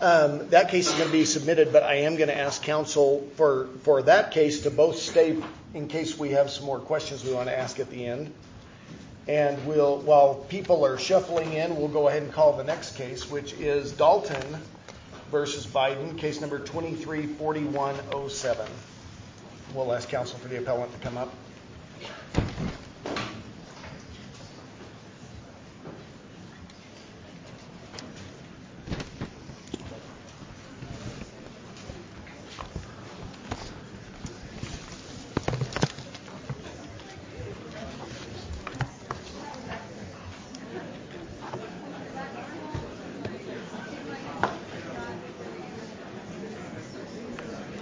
That case is going to be submitted, but I am going to ask counsel for that case to both stay in case we have some more questions we want to ask at the end. And while people are shuffling in, we'll go ahead and call the next case, which is Dalton v. Biden, case number 234107. We'll ask counsel for the appellant to come up.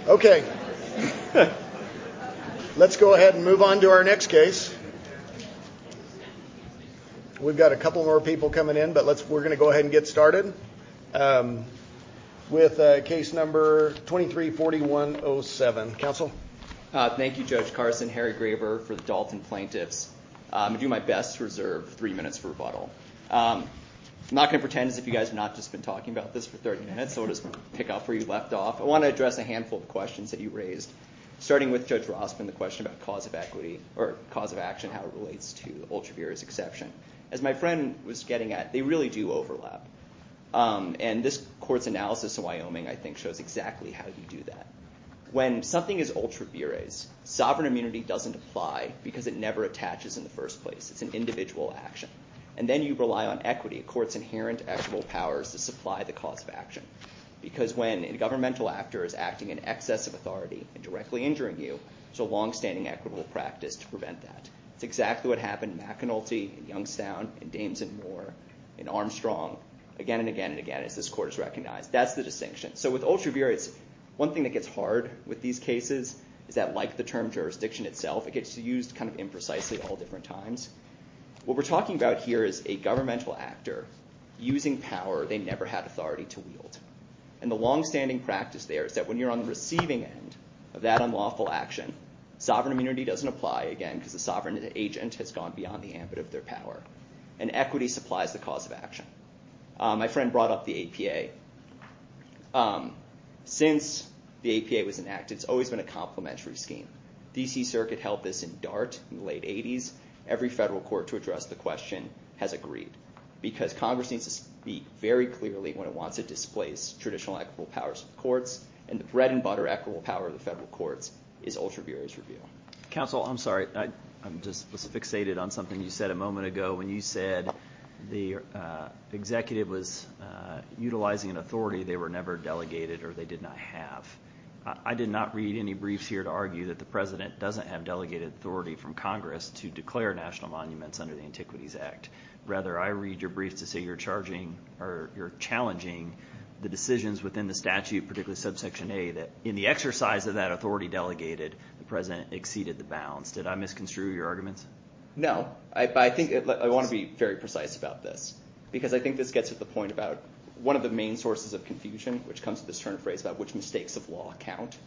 Okay. Let's go ahead and move on to our next case. We've got a couple more people coming in, but we're going to go ahead and get started with case number 234107. Counsel? Thank you, Judge Carson. Harry Graber for the Dalton plaintiffs. I'll do my best to reserve three minutes for rebuttal. I'm not going to pretend as if you guys have not just been talking about this for 30 minutes, so I'll just pick up where you left off. I want to address a handful of questions that you raised. Starting with Judge Rossman, the question about cause of equity or cause of action, how it relates to ultra-bureaus exception. As my friend was getting at, they really do overlap. And this court's analysis in Wyoming, I think, shows exactly how you do that. When something is ultra-bureaus, sovereign immunity doesn't apply because it never attaches in the first place. It's an individual action. And then you rely on equity, a court's inherent actual powers to supply the cause of action. Because when a governmental actor is acting in excess of authority and directly injuring you, there's a longstanding equitable practice to prevent that. It's exactly what happened in McAnulty, in Youngstown, in Dames and Moore, in Armstrong, again and again and again, as this court has recognized. That's the distinction. So with ultra-bureaus, one thing that gets hard with these cases is that, like the term jurisdiction itself, it gets used kind of imprecisely at all different times. What we're talking about here is a governmental actor using power they never had authority to wield. And the longstanding practice there is that when you're on the receiving end of that unlawful action, sovereign immunity doesn't apply again because the sovereign agent has gone beyond the ambit of their power. And equity supplies the cause of action. My friend brought up the APA. Since the APA was enacted, it's always been a complementary scheme. The D.C. Circuit held this in DART in the late 80s. Every federal court to address the question has agreed because Congress needs to speak very clearly when it wants to displace traditional equitable powers of the courts. And the bread and butter equitable power of the federal courts is ultra-bureaus review. Counsel, I'm sorry. I just was fixated on something you said a moment ago when you said the executive was utilizing an authority they were never delegated or they did not have. I did not read any briefs here to argue that the President doesn't have delegated authority from Congress to declare national monuments under the Antiquities Act. Rather, I read your briefs to say you're challenging the decisions within the statute, particularly subsection A, that in the exercise of that authority delegated, the President exceeded the bounds. Did I misconstrue your arguments? No. I want to be very precise about this because I think this gets to the point about one of the main sources of confusion which comes to this turn of phrase about which mistakes of law count.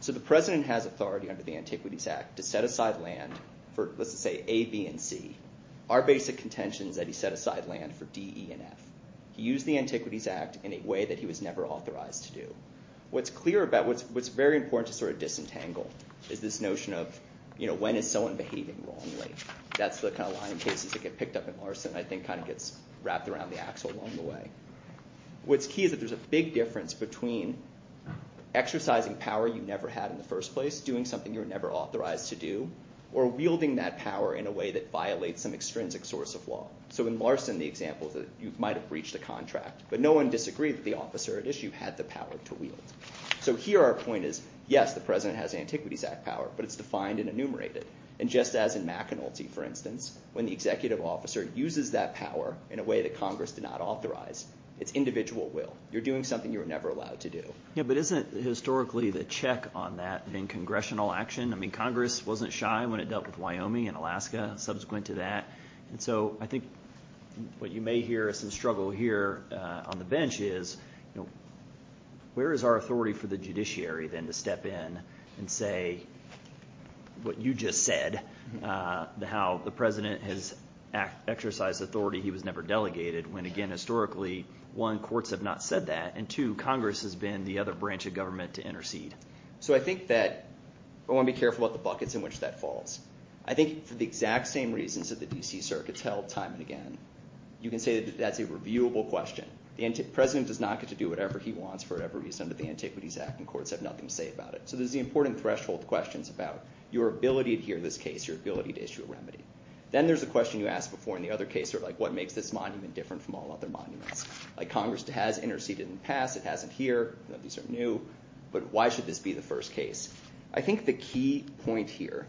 So the President has authority under the Antiquities Act to set aside land for, let's just say, A, B, and C. Our basic contention is that he set aside land for D, E, and F. He used the Antiquities Act in a way that he was never authorized to do. What's clear about – what's very important to sort of disentangle is this notion of when is someone behaving wrongly. That's the kind of line of cases that get picked up in Larson and I think kind of gets wrapped around the axle along the way. What's key is that there's a big difference between exercising power you never had in the first place, doing something you were never authorized to do, or wielding that power in a way that violates some extrinsic source of law. So in Larson, the example is that you might have breached a contract, but no one disagreed that the officer at issue had the power to wield. So here our point is, yes, the President has Antiquities Act power, but it's defined and enumerated. And just as in McAnulty, for instance, when the executive officer uses that power in a way that Congress did not authorize, it's individual will. You're doing something you were never allowed to do. Yeah, but isn't it historically the check on that in congressional action? I mean Congress wasn't shy when it dealt with Wyoming and Alaska subsequent to that. And so I think what you may hear as some struggle here on the bench is where is our authority for the judiciary then to step in and say what you just said, how the President has exercised authority he was never delegated when, again, historically, one, courts have not said that, and two, Congress has been the other branch of government to intercede. So I think that I want to be careful about the buckets in which that falls. I think for the exact same reasons that the D.C. circuits held time and again, you can say that that's a reviewable question. The President does not get to do whatever he wants for whatever reason, but the Antiquities Act and courts have nothing to say about it. So there's the important threshold questions about your ability to hear this case, your ability to issue a remedy. Then there's the question you asked before in the other case, sort of like what makes this monument different from all other monuments. Like Congress has interceded in the past. It hasn't here. These are new. But why should this be the first case? I think the key point here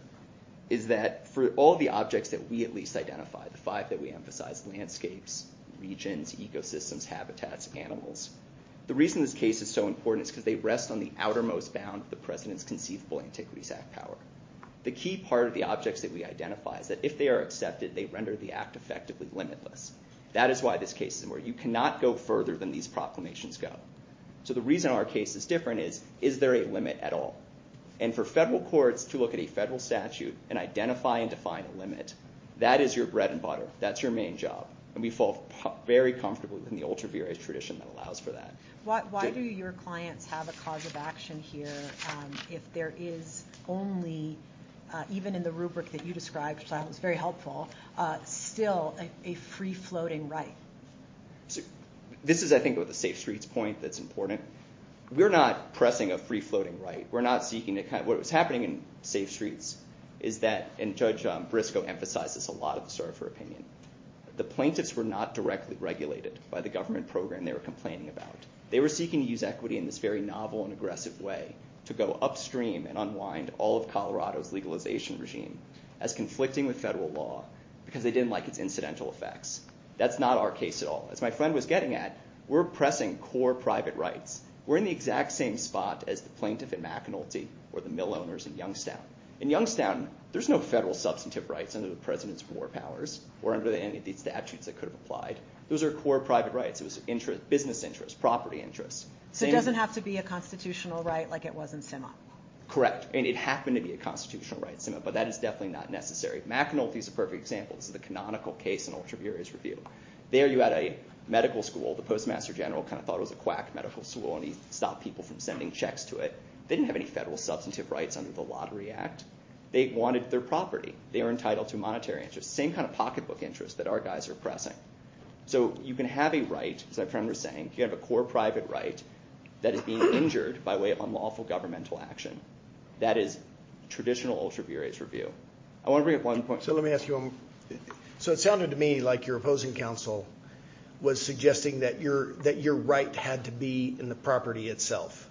is that for all the objects that we at least identify, the five that we emphasize, landscapes, regions, ecosystems, habitats, animals, the reason this case is so important is because they rest on the outermost bound of the President's conceivable Antiquities Act power. The key part of the objects that we identify is that if they are accepted, they render the act effectively limitless. That is why this case is where you cannot go further than these proclamations go. So the reason our case is different is, is there a limit at all? And for federal courts to look at a federal statute and identify and define a limit, that is your bread and butter. That's your main job. And we fall very comfortably within the ultra-various tradition that allows for that. Why do your clients have a cause of action here if there is only, even in the rubric that you described, which I thought was very helpful, still a free-floating right? This is, I think, with the Safe Streets point that's important. We're not pressing a free-floating right. We're not seeking to kind of – what was happening in Safe Streets is that – and Judge Briscoe emphasized this a lot at the start of her opinion. The plaintiffs were not directly regulated by the government program they were complaining about. They were seeking to use equity in this very novel and aggressive way to go upstream and unwind all of Colorado's legalization regime as conflicting with federal law because they didn't like its incidental effects. That's not our case at all. As my friend was getting at, we're pressing core private rights. We're in the exact same spot as the plaintiff in McAnulty or the mill owners in Youngstown. In Youngstown, there's no federal substantive rights under the president's war powers or under any of the statutes that could have applied. Those are core private rights. It was business interests, property interests. So it doesn't have to be a constitutional right like it was in Sima? Correct, and it happened to be a constitutional right in Sima, but that is definitely not necessary. McAnulty is a perfect example. This is the canonical case in ultraviarious review. There you had a medical school. The postmaster general kind of thought it was a quack medical school and he stopped people from sending checks to it. They didn't have any federal substantive rights under the Lottery Act. They wanted their property. They were entitled to monetary interest, the same kind of pocketbook interest that our guys are pressing. So you can have a right, as my friend was saying, you can have a core private right that is being injured by way of unlawful governmental action. That is traditional ultraviarious review. I want to bring up one point. It sounded to me like your opposing counsel was suggesting that your right had to be in the property itself.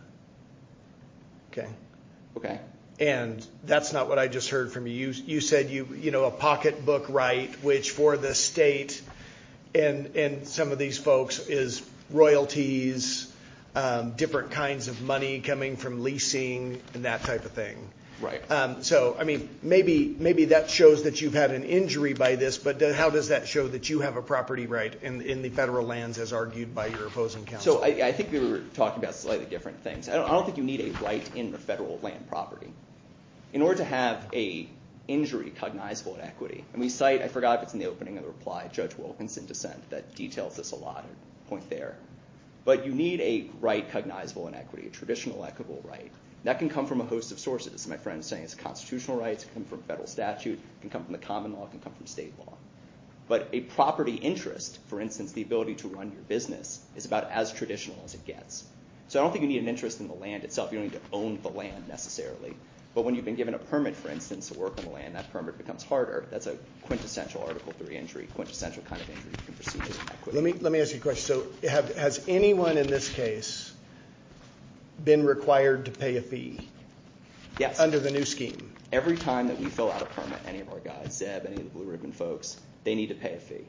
And that is not what I just heard from you. You said a pocketbook right, which for the state and some of these folks is royalties, different kinds of money coming from leasing and that type of thing. Right. So maybe that shows that you've had an injury by this, but how does that show that you have a property right in the federal lands as argued by your opposing counsel? So I think we were talking about slightly different things. I don't think you need a right in the federal land property. In order to have a injury cognizable in equity, and we cite, I forgot if it's in the opening of the reply, Judge Wilkinson dissent that details this a lot. I'll point there. But you need a right cognizable in equity, a traditional equitable right. That can come from a host of sources. My friend is saying it's constitutional rights. It can come from federal statute. It can come from the common law. It can come from state law. But a property interest, for instance, the ability to run your business, is about as traditional as it gets. So I don't think you need an interest in the land itself. You don't need to own the land necessarily. But when you've been given a permit, for instance, to work on the land, that permit becomes harder. That's a quintessential Article III injury, quintessential kind of injury. Let me ask you a question. So has anyone in this case been required to pay a fee under the new scheme? Yes. Every time that we fill out a permit, any of our guys, Zeb, any of the Blue Ribbon folks, they need to pay a fee.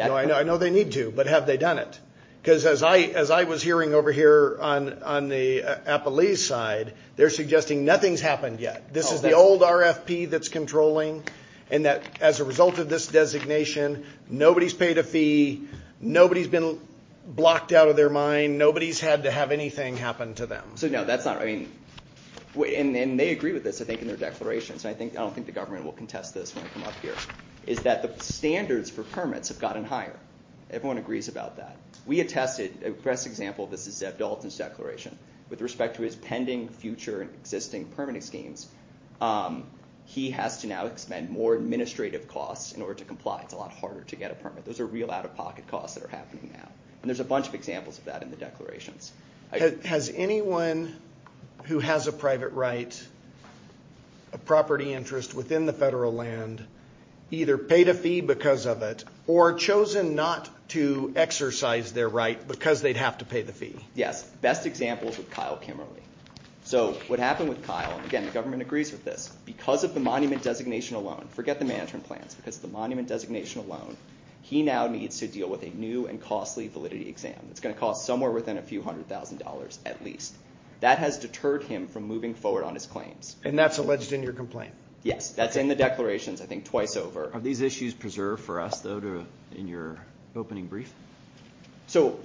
I know they need to, but have they done it? Because as I was hearing over here on the Appalachian side, they're suggesting nothing's happened yet. This is the old RFP that's controlling. And as a result of this designation, nobody's paid a fee. Nobody's been blocked out of their mind. Nobody's had to have anything happen to them. So no, that's not right. And they agree with this, I think, in their declarations. I don't think the government will contest this when I come up here. It's that the standards for permits have gotten higher. Everyone agrees about that. We attested, the best example of this is Zeb Dalton's declaration. With respect to his pending future and existing permit schemes, he has to now expend more administrative costs in order to comply. It's a lot harder to get a permit. Those are real out-of-pocket costs that are happening now. And there's a bunch of examples of that in the declarations. Has anyone who has a private right, a property interest within the federal land, either paid a fee because of it or chosen not to exercise their right because they'd have to pay the fee? Yes, the best example is with Kyle Kimmerle. So what happened with Kyle, again, the government agrees with this. Because of the monument designation alone, forget the management plans, because of the monument designation alone, he now needs to deal with a new and costly validity exam. It's going to cost somewhere within a few hundred thousand dollars at least. That has deterred him from moving forward on his claims. And that's alleged in your complaint? Yes, that's in the declarations, I think, twice over. Are these issues preserved for us, though, in your opening brief? So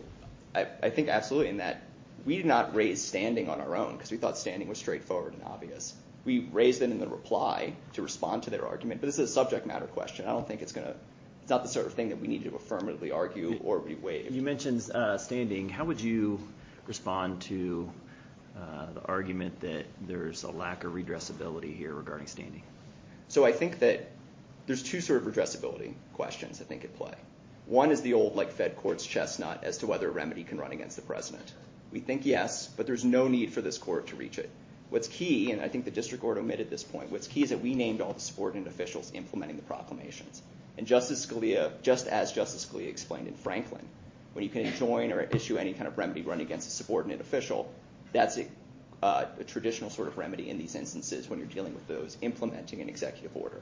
I think absolutely, in that we did not raise standing on our own, because we thought standing was straightforward and obvious. We raised it in the reply to respond to their argument. But this is a subject matter question. I don't think it's going to – it's not the sort of thing that we need to affirmatively argue or waive. You mentioned standing. How would you respond to the argument that there's a lack of redressability here regarding standing? So I think that there's two sort of redressability questions, I think, at play. One is the old, like Fed courts, chestnut as to whether a remedy can run against the president. We think yes, but there's no need for this court to reach it. What's key, and I think the district court omitted this point, what's key is that we named all the subordinate officials implementing the proclamations. And Justice Scalia, just as Justice Scalia explained in Franklin, when you can join or issue any kind of remedy running against a subordinate official, that's a traditional sort of remedy in these instances when you're dealing with those implementing an executive order.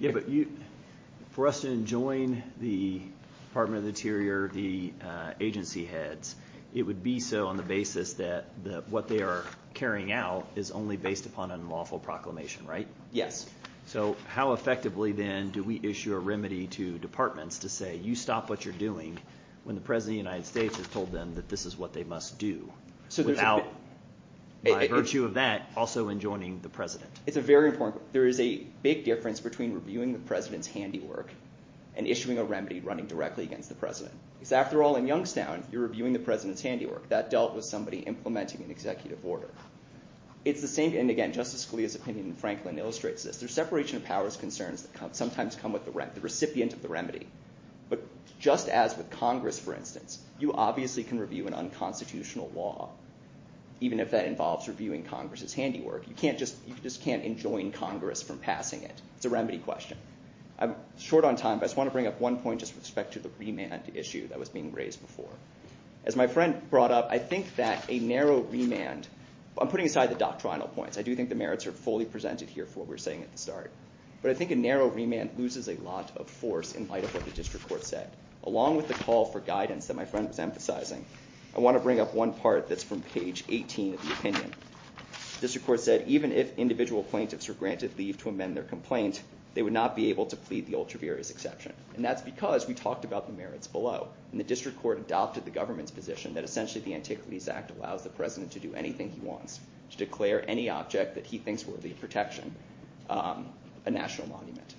But for us to join the Department of the Interior, the agency heads, it would be so on the basis that what they are carrying out is only based upon an unlawful proclamation, right? Yes. So how effectively then do we issue a remedy to departments to say you stop what you're doing when the president of the United States has told them that this is what they must do without, by virtue of that, also enjoining the president? It's a very important, there is a big difference between reviewing the president's handiwork and issuing a remedy running directly against the president. Because after all, in Youngstown, you're reviewing the president's handiwork. That dealt with somebody implementing an executive order. It's the same, and again, Justice Scalia's opinion in Franklin illustrates this. There's separation of powers concerns that sometimes come with the recipient of the remedy. But just as with Congress, for instance, you obviously can review an unconstitutional law, even if that involves reviewing Congress's handiwork. You just can't enjoin Congress from passing it. It's a remedy question. I'm short on time, but I just want to bring up one point just with respect to the remand issue that was being raised before. As my friend brought up, I think that a narrow remand, I'm putting aside the doctrinal points. I do think the merits are fully presented here for what we were saying at the start. But I think a narrow remand loses a lot of force in light of what the district court said. Along with the call for guidance that my friend was emphasizing, I want to bring up one part that's from page 18 of the opinion. The district court said, even if individual plaintiffs are granted leave to amend their complaint, they would not be able to plead the ultra-various exception. And that's because we talked about the merits below. And the district court adopted the government's position that essentially the Antiquities Act allows the president to do anything he wants, to declare any object that he thinks worthy of protection a national monument.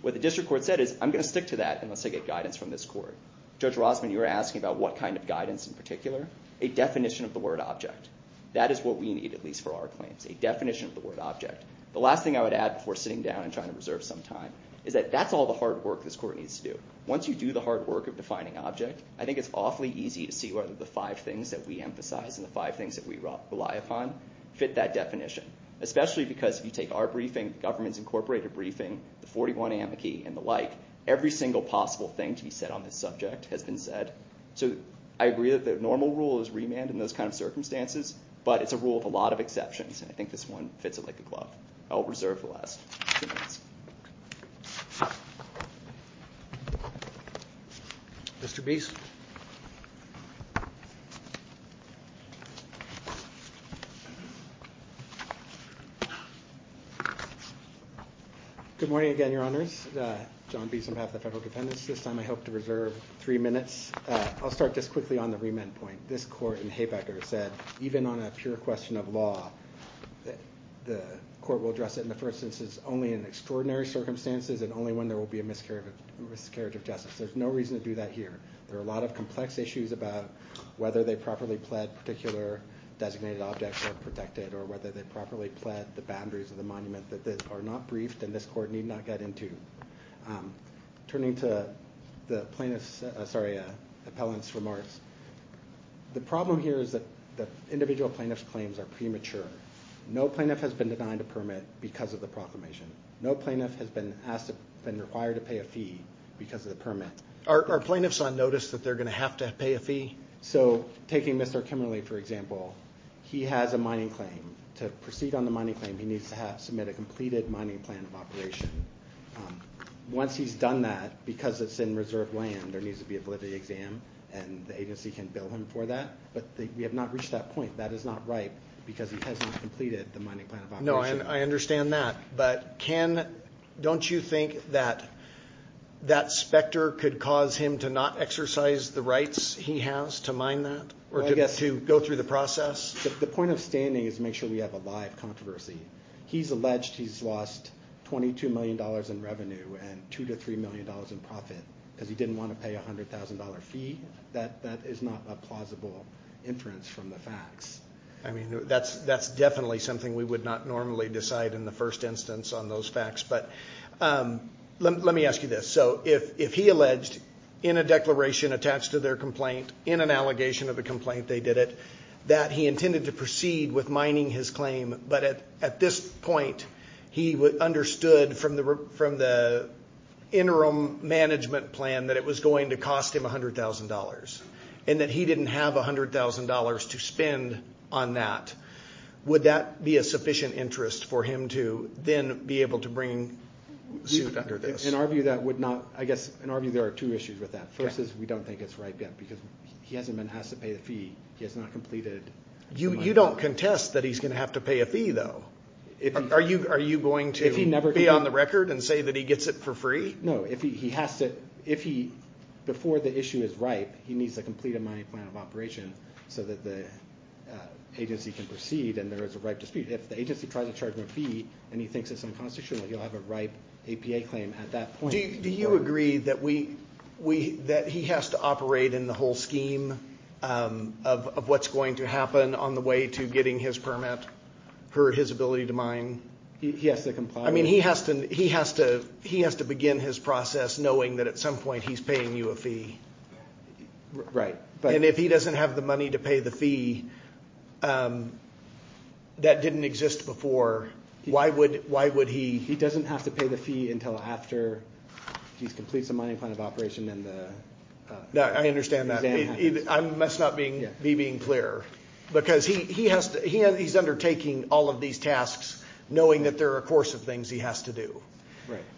What the district court said is, I'm going to stick to that unless I get guidance from this court. Judge Rosman, you were asking about what kind of guidance in particular? A definition of the word object. That is what we need, at least for our claims, a definition of the word object. The last thing I would add before sitting down and trying to reserve some time, is that that's all the hard work this court needs to do. Once you do the hard work of defining object, I think it's awfully easy to see whether the five things that we emphasize and the five things that we rely upon fit that definition. Especially because if you take our briefing, the Government's Incorporated briefing, the 41 amici, and the like, every single possible thing to be said on this subject has been said. I agree that the normal rule is remand in those kind of circumstances, but it's a rule with a lot of exceptions. I think this one fits it like a glove. I'll reserve the last two minutes. Good morning again, Your Honors. John Beeson on behalf of the Federal Defendants. This time I hope to reserve three minutes. I'll start just quickly on the remand point. This court in Haybecker said, even on a pure question of law, the court will address it in the first instance only in extraordinary circumstances and only when there will be a miscarriage of justice. There's no reason to do that here. There are a lot of complex issues about whether they properly pled particular designated objects or protected, or whether they properly pled the boundaries of the monument that are not briefed and this court need not get into. Turning to the plaintiff's, sorry, appellant's remarks, the problem here is that the individual plaintiff's claims are premature. No plaintiff has been denied a permit because of the proclamation. No plaintiff has been asked, been required to pay a fee because of the permit. Are plaintiffs on notice that they're going to have to pay a fee? So taking Mr. Kimberley, for example, he has a mining claim. To proceed on the mining claim, he needs to submit a completed mining plan of operation. Once he's done that, because it's in reserved land, there needs to be a validity exam and the agency can bill him for that, but we have not reached that point. That is not right because he has not completed the mining plan of operation. No, I understand that, but don't you think that that specter could cause him to not exercise the rights he has to mine that or to go through the process? The point of standing is to make sure we have a live controversy. He's alleged he's lost $22 million in revenue and $2 million to $3 million in profit because he didn't want to pay a $100,000 fee. That is not a plausible inference from the facts. I mean, that's definitely something we would not normally decide in the first instance on those facts, but let me ask you this. So if he alleged in a declaration attached to their complaint, in an allegation of a complaint they did it, that he intended to proceed with mining his claim, but at this point he understood from the interim management plan that it was going to cost him $100,000 and that he didn't have $100,000 to spend on that, would that be a sufficient interest for him to then be able to bring suit under this? In our view, there are two issues with that. The first is we don't think it's ripe yet because he hasn't been asked to pay the fee. He has not completed the mining plan. You don't contest that he's going to have to pay a fee, though. Are you going to be on the record and say that he gets it for free? No. Before the issue is ripe, he needs to complete a mining plan of operation so that the agency can proceed and there is a ripe dispute. If the agency tries to charge him a fee and he thinks it's unconstitutional, he'll have a ripe APA claim at that point. Do you agree that he has to operate in the whole scheme of what's going to happen on the way to getting his permit for his ability to mine? He has to comply with it. He has to begin his process knowing that at some point he's paying you a fee. Right. If he doesn't have the money to pay the fee that didn't exist before, why would he? He doesn't have to pay the fee until after he completes the mining plan of operation and the exam happens. I understand that. That's not me being clear because he's undertaking all of these tasks knowing that there are a course of things he has to do.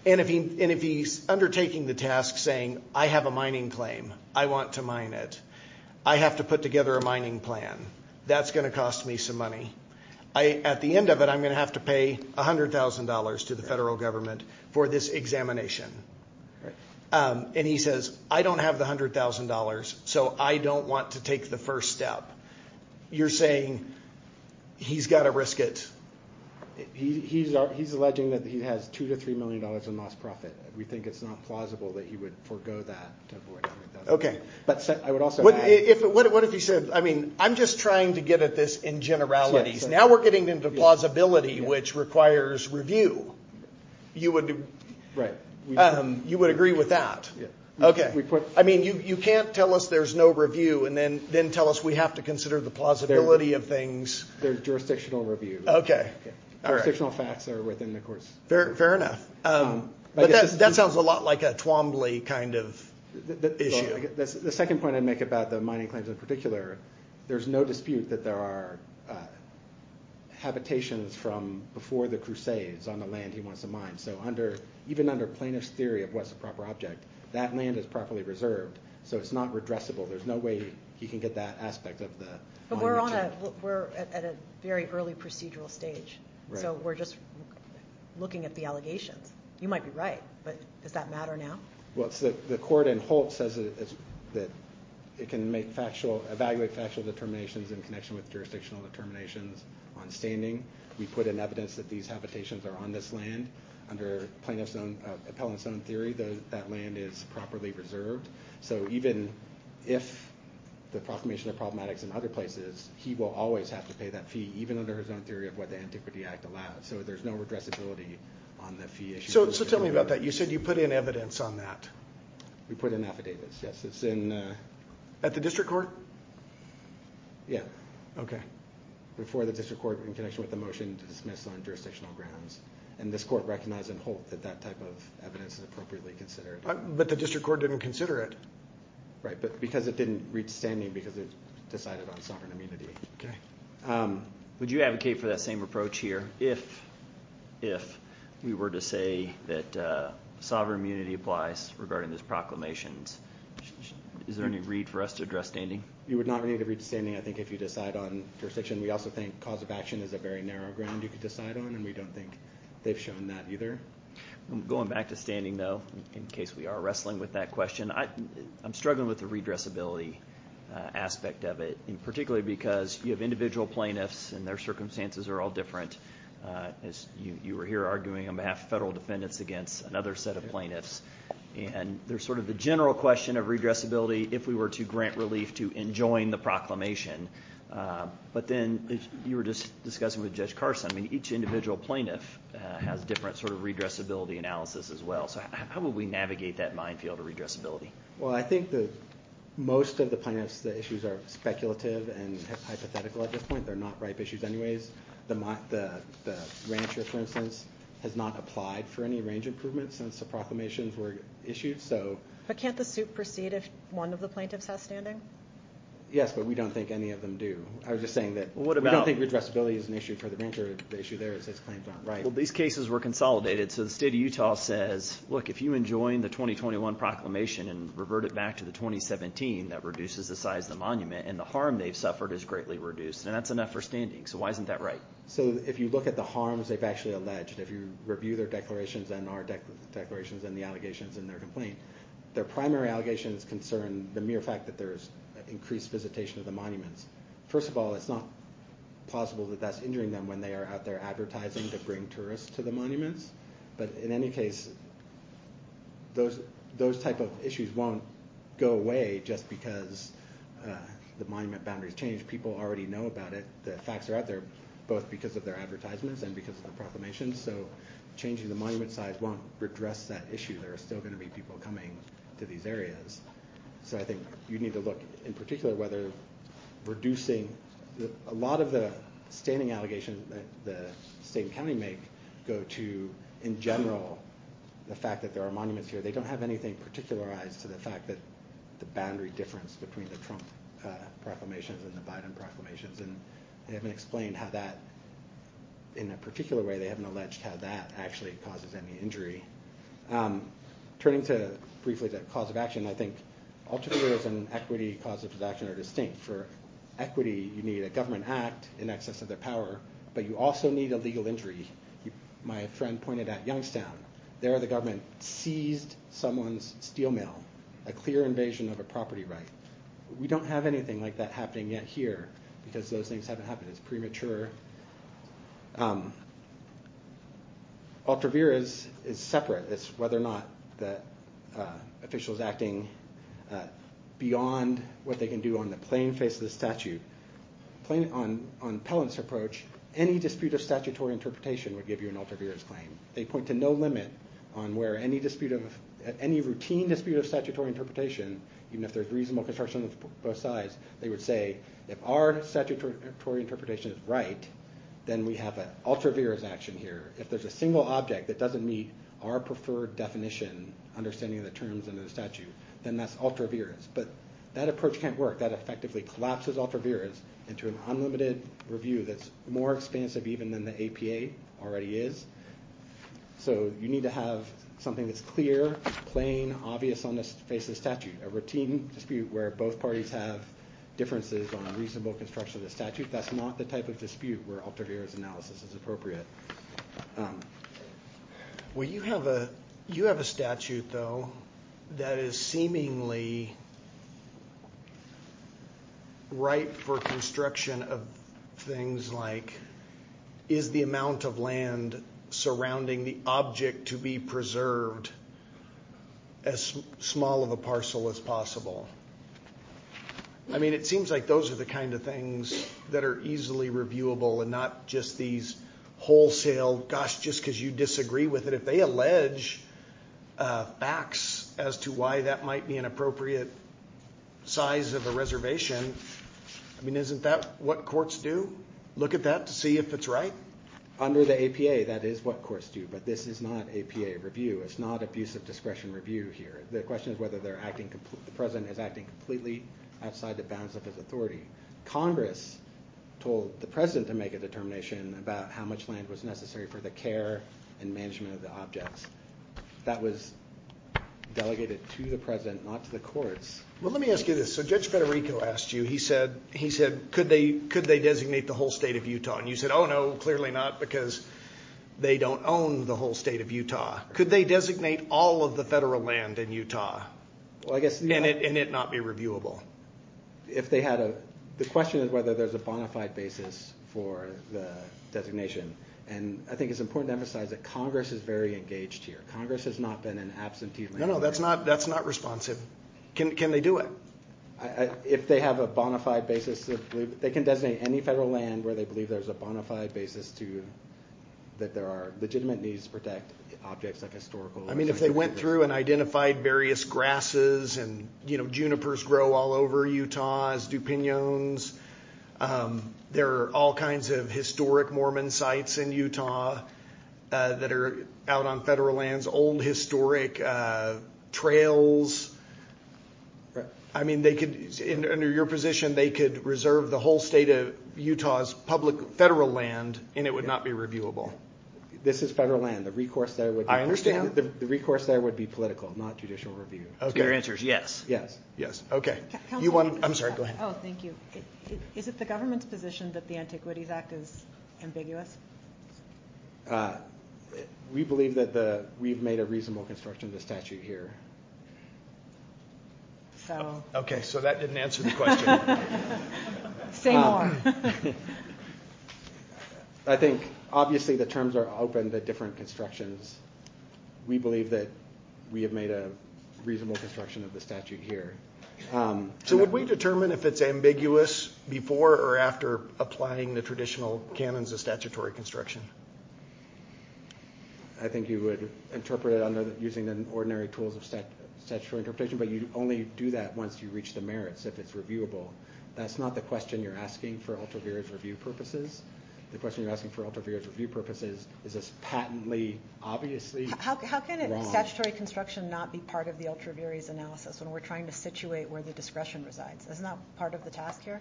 If he's undertaking the task saying, I have a mining claim, I want to mine it, I have to put together a mining plan, that's going to cost me some money. At the end of it, I'm going to have to pay $100,000 to the federal government for this examination. He says, I don't have the $100,000, so I don't want to take the first step. You're saying he's got to risk it. He's alleging that he has $2 million to $3 million in lost profit. We think it's not plausible that he would forego that to avoid $100,000. I'm just trying to get at this in generalities. Now we're getting into plausibility, which requires review. You would agree with that? You can't tell us there's no review and then tell us we have to consider the plausibility of things. There's jurisdictional review. Jurisdictional facts are within the course. Fair enough. That sounds a lot like a Twombly kind of issue. The second point I'd make about the mining claims in particular, there's no dispute that there are habitations from before the Crusades on the land he wants to mine. Even under plaintiff's theory of what's a proper object, that land is properly reserved, so it's not redressable. There's no way he can get that aspect of the mine mentioned. We're at a very early procedural stage. We're just looking at the allegations. You might be right, but does that matter now? The court in Holt says that it can evaluate factual determinations in connection with jurisdictional determinations on standing. We put in evidence that these habitations are on this land. Under plaintiff's own theory, that land is properly reserved. Even if the proclamation of problematics in other places, he will always have to pay that fee, even under his own theory of what the Antiquity Act allows. There's no redressability on the fee issue. Tell me about that. You said you put in evidence on that. We put in affidavits, yes. At the district court? Yeah. Before the district court in connection with the motion to dismiss on jurisdictional grounds. This court recognized in Holt that that type of evidence is appropriately considered. But the district court didn't consider it. Right, but because it didn't reach standing, because it decided on sovereign immunity. Would you advocate for that same approach here? If we were to say that sovereign immunity applies regarding these proclamations, is there any read for us to address standing? You would not need to read standing, I think, if you decide on jurisdiction. We also think cause of action is a very narrow ground you could decide on, and we don't think they've shown that either. Going back to standing, though, in case we are wrestling with that question, I'm struggling with the redressability aspect of it, particularly because you have individual plaintiffs and their circumstances are all different. You were here arguing on behalf of federal defendants against another set of plaintiffs, and there's sort of the general question of redressability if we were to grant relief to enjoin the proclamation. But then you were just discussing with Judge Carson, each individual plaintiff has a different sort of redressability analysis as well. So how would we navigate that minefield of redressability? Well, I think that most of the plaintiffs, the issues are speculative and hypothetical at this point. They're not ripe issues anyways. The rancher, for instance, has not applied for any range improvements since the proclamations were issued. But can't the suit proceed if one of the plaintiffs has standing? Yes, but we don't think any of them do. I was just saying that we don't think redressability is an issue for the rancher. The issue there is his claim is not right. Well, these cases were consolidated, so the state of Utah says, look, if you enjoin the 2021 proclamation and revert it back to the 2017, that reduces the size of the monument, and the harm they've suffered is greatly reduced, then that's enough for standing. So why isn't that right? So if you look at the harms they've actually alleged, if you review their declarations and our declarations and the allegations in their complaint, their primary allegations concern the mere fact that there's increased visitation of the monuments. First of all, it's not plausible that that's injuring them when they are out there advertising to bring tourists to the monuments. But in any case, those type of issues won't go away just because the monument boundaries change. People already know about it. The facts are out there, both because of their advertisements and because of the proclamations. So changing the monument size won't redress that issue. There are still going to be people coming to these areas. So I think you need to look, in particular, whether reducing a lot of the standing allegations that the state and county make go to, in general, the fact that there are monuments here. They don't have anything particularized to the fact that the boundary difference between the Trump proclamations and the Biden proclamations. And they haven't explained how that, in a particular way, they haven't alleged how that actually causes any injury. Turning to, briefly, the cause of action, I think Altavera's and equity cause of action are distinct. For equity, you need a government act in excess of their power. But you also need a legal injury. My friend pointed out Youngstown. There, the government seized someone's steel mill, a clear invasion of a property right. We don't have anything like that happening yet here because those things haven't happened. It's premature. Altavera is separate. It's whether or not the official is acting beyond what they can do on the plain face of the statute. On Pellant's approach, any dispute of statutory interpretation would give you an Altavera's claim. They point to no limit on where any dispute of, any routine dispute of statutory interpretation, even if there's reasonable construction on both sides, they would say, if our statutory interpretation is right, then we have an Altavera's action here. If there's a single object that doesn't meet our preferred definition, understanding of the terms under the statute, then that's Altavera's. But that approach can't work. That effectively collapses Altavera's into an unlimited review that's more expansive even than the APA already is. So you need to have something that's clear, plain, obvious on the face of the statute. A routine dispute where both parties have differences on a reasonable construction of the statute, that's not the type of dispute where Altavera's analysis is appropriate. Well, you have a statute, though, that is seemingly right for construction of things like, is the amount of land surrounding the object to be preserved as small of a parcel as possible? I mean, it seems like those are the kind of things that are easily reviewable and not just these wholesale, gosh, just because you disagree with it. If they allege facts as to why that might be an appropriate size of a reservation, I mean, isn't that what courts do, look at that to see if it's right? Under the APA, that is what courts do. But this is not APA review. It's not abuse of discretion review here. The question is whether the President is acting completely outside the bounds of his authority. Congress told the President to make a determination about how much land was necessary for the care and management of the objects. That was delegated to the President, not to the courts. Well, let me ask you this. So Judge Federico asked you, he said, could they designate the whole state of Utah? And you said, oh, no, clearly not, because they don't own the whole state of Utah. Could they designate all of the federal land in Utah and it not be reviewable? The question is whether there's a bona fide basis for the designation. And I think it's important to emphasize that Congress is very engaged here. Congress has not been in absentee land. No, no, that's not responsive. Can they do it? If they have a bona fide basis, they can designate any federal land where they believe there's a bona fide basis that there are legitimate needs to protect objects like historical. I mean, if they went through and identified various grasses and junipers grow all over Utah, stupinions, there are all kinds of historic Mormon sites in Utah that are out on federal lands, old historic trails. Under your position, they could reserve the whole state of Utah's public federal land and it would not be reviewable. This is federal land. The recourse there would be political, not judicial review. Your answer is yes. Yes, yes. I'm sorry, go ahead. Oh, thank you. Is it the government's position that the Antiquities Act is ambiguous? We believe that we've made a reasonable construction of the statute here. OK, so that didn't answer the question. Say more. I think, obviously, the terms are open to different constructions. We believe that we have made a reasonable construction of the statute here. So would we determine if it's ambiguous before or after applying the traditional canons of statutory construction? I think you would interpret it using the ordinary tools of statutory interpretation, but you only do that once you reach the merits, if it's reviewable. That's not the question you're asking for Altavira's review purposes. The question you're asking for Altavira's review purposes is, is this patently obviously wrong? How can a statutory construction not be part of the Altavira's analysis when we're trying to situate where the discretion resides? Isn't that part of the task here?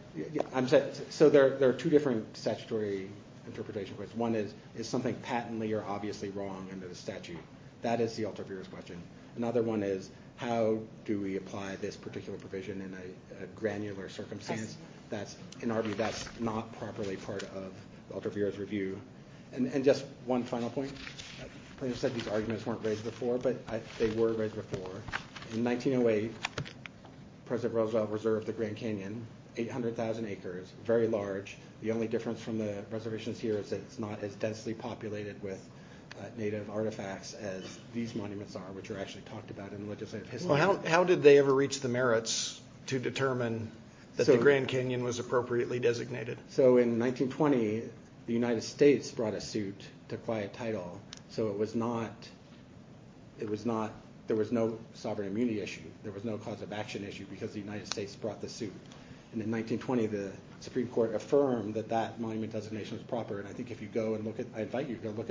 So there are two different statutory interpretations. One is, is something patently or obviously wrong under the statute? That is the Altavira's question. Another one is, how do we apply this particular provision in a granular circumstance? In our view, that's not properly part of Altavira's review. And just one final point. You said these arguments weren't raised before, but they were raised before. In 1908, President Roosevelt reserved the Grand Canyon, 800,000 acres, very large. The only difference from the reservations here is that it's not as densely populated with native artifacts as these monuments are, which are actually talked about in legislative history. How did they ever reach the merits to determine that the Grand Canyon was appropriately designated? So in 1920, the United States brought a suit to quiet title. So there was no sovereign immunity issue. There was no cause of action issue, because the United States brought the suit. And in 1920, the Supreme Court affirmed that that monument designation was proper. And I think if you go and look at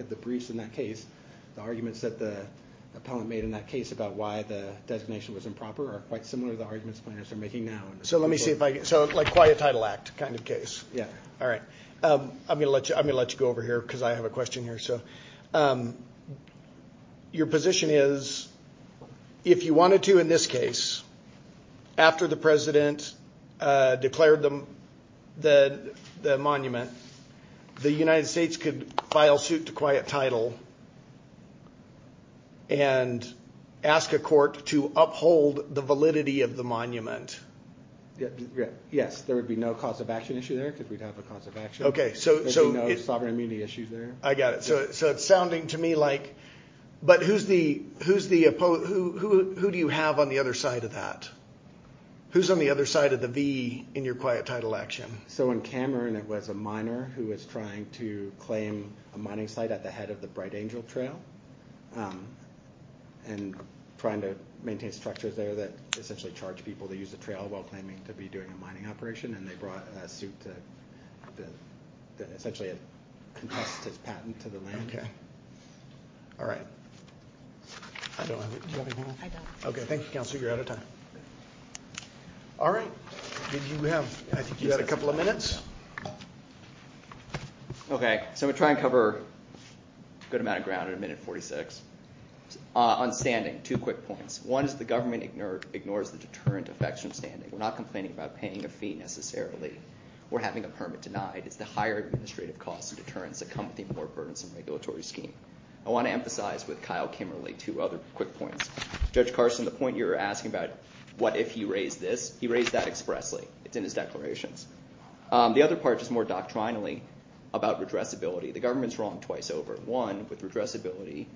the briefs in that case, the arguments that the appellant made in that case about why the designation was improper are quite similar to the arguments planners are making now. So let me see if I can. So like quiet title act kind of case. Yeah. All right. I'm going to let you go over here, because I have a question here. So your position is, if you wanted to in this case, after the president declared the monument, the United States could file suit to quiet title and ask a court to uphold the validity of the monument? Yes. There would be no cause of action issue there, because we'd have a cause of action. OK. There'd be no sovereign immunity issues there. I got it. So it's sounding to me like, but who do you have on the other side of that? Who's on the other side of the V in your quiet title action? So in Cameron, it was a miner who was trying to claim a mining site at the head of the Bright Angel Trail, and trying to maintain structures there that essentially charge people to use the trail while claiming to be doing a mining operation. And they brought a suit to essentially contest his patent to the land. All right. I don't have it. Do you have anything else? I don't. OK. Thank you, Counselor. You're out of time. All right. I think you have a couple of minutes. OK. So I'm going to try and cover a good amount of ground in a minute and 46. On standing, two quick points. One is the government ignores the deterrent effects from standing. We're not complaining about paying a fee, necessarily. We're having a permit denied. It's the higher administrative costs and deterrents that come with even more burdensome regulatory scheme. I want to emphasize with Kyle Kimberley two other quick points. Judge Carson, the point you were asking about, what if he raised this? He raised that expressly. It's in his declarations. The other part, just more doctrinally, about redressability. The government's wrong twice over. One, with redressability.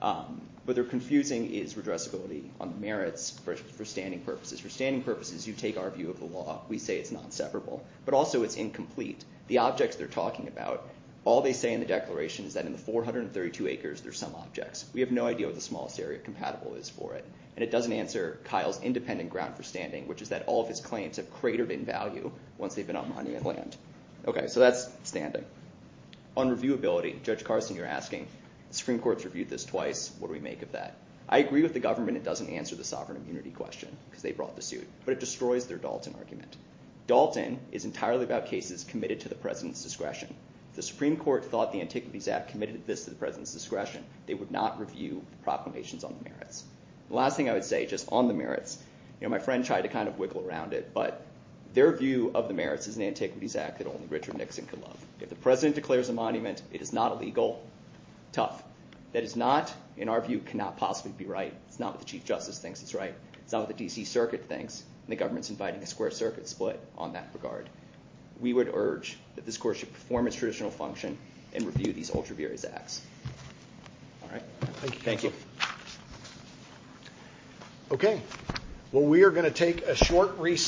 What they're confusing is redressability on the merits for standing purposes. For standing purposes, you take our view of the law. We say it's non-separable. But also, it's incomplete. The objects they're talking about, all they say in the declaration is that in the 432 acres, there's some objects. We have no idea what the smallest area compatible is for it. And it doesn't answer Kyle's independent ground for standing, which is that all of his claims have cratered in value once they've been on monument land. OK, so that's standing. On reviewability, Judge Carson, you're asking, the Supreme Court's reviewed this twice. What do we make of that? I agree with the government it doesn't answer the sovereign immunity question, because they brought the suit. But it destroys their Dalton argument. Dalton is entirely about cases committed to the president's discretion. If the Supreme Court thought the Antiquities Act committed this to the president's discretion, they would not review the proclamations on the merits. The last thing I would say, just on the merits, my friend tried to kind of wiggle around it. But their view of the merits of the Antiquities Act that only Richard Nixon could love. If the president declares a monument, it is not illegal. That is not, in our view, cannot possibly be right. It's not what the Chief Justice thinks is right. It's not what the D.C. Circuit thinks. And the government's inviting a square circuit split on that regard. We would urge that this court should perform its traditional function and review these ultraviarious acts. All right? Thank you. OK, well, we are going to take a short recess.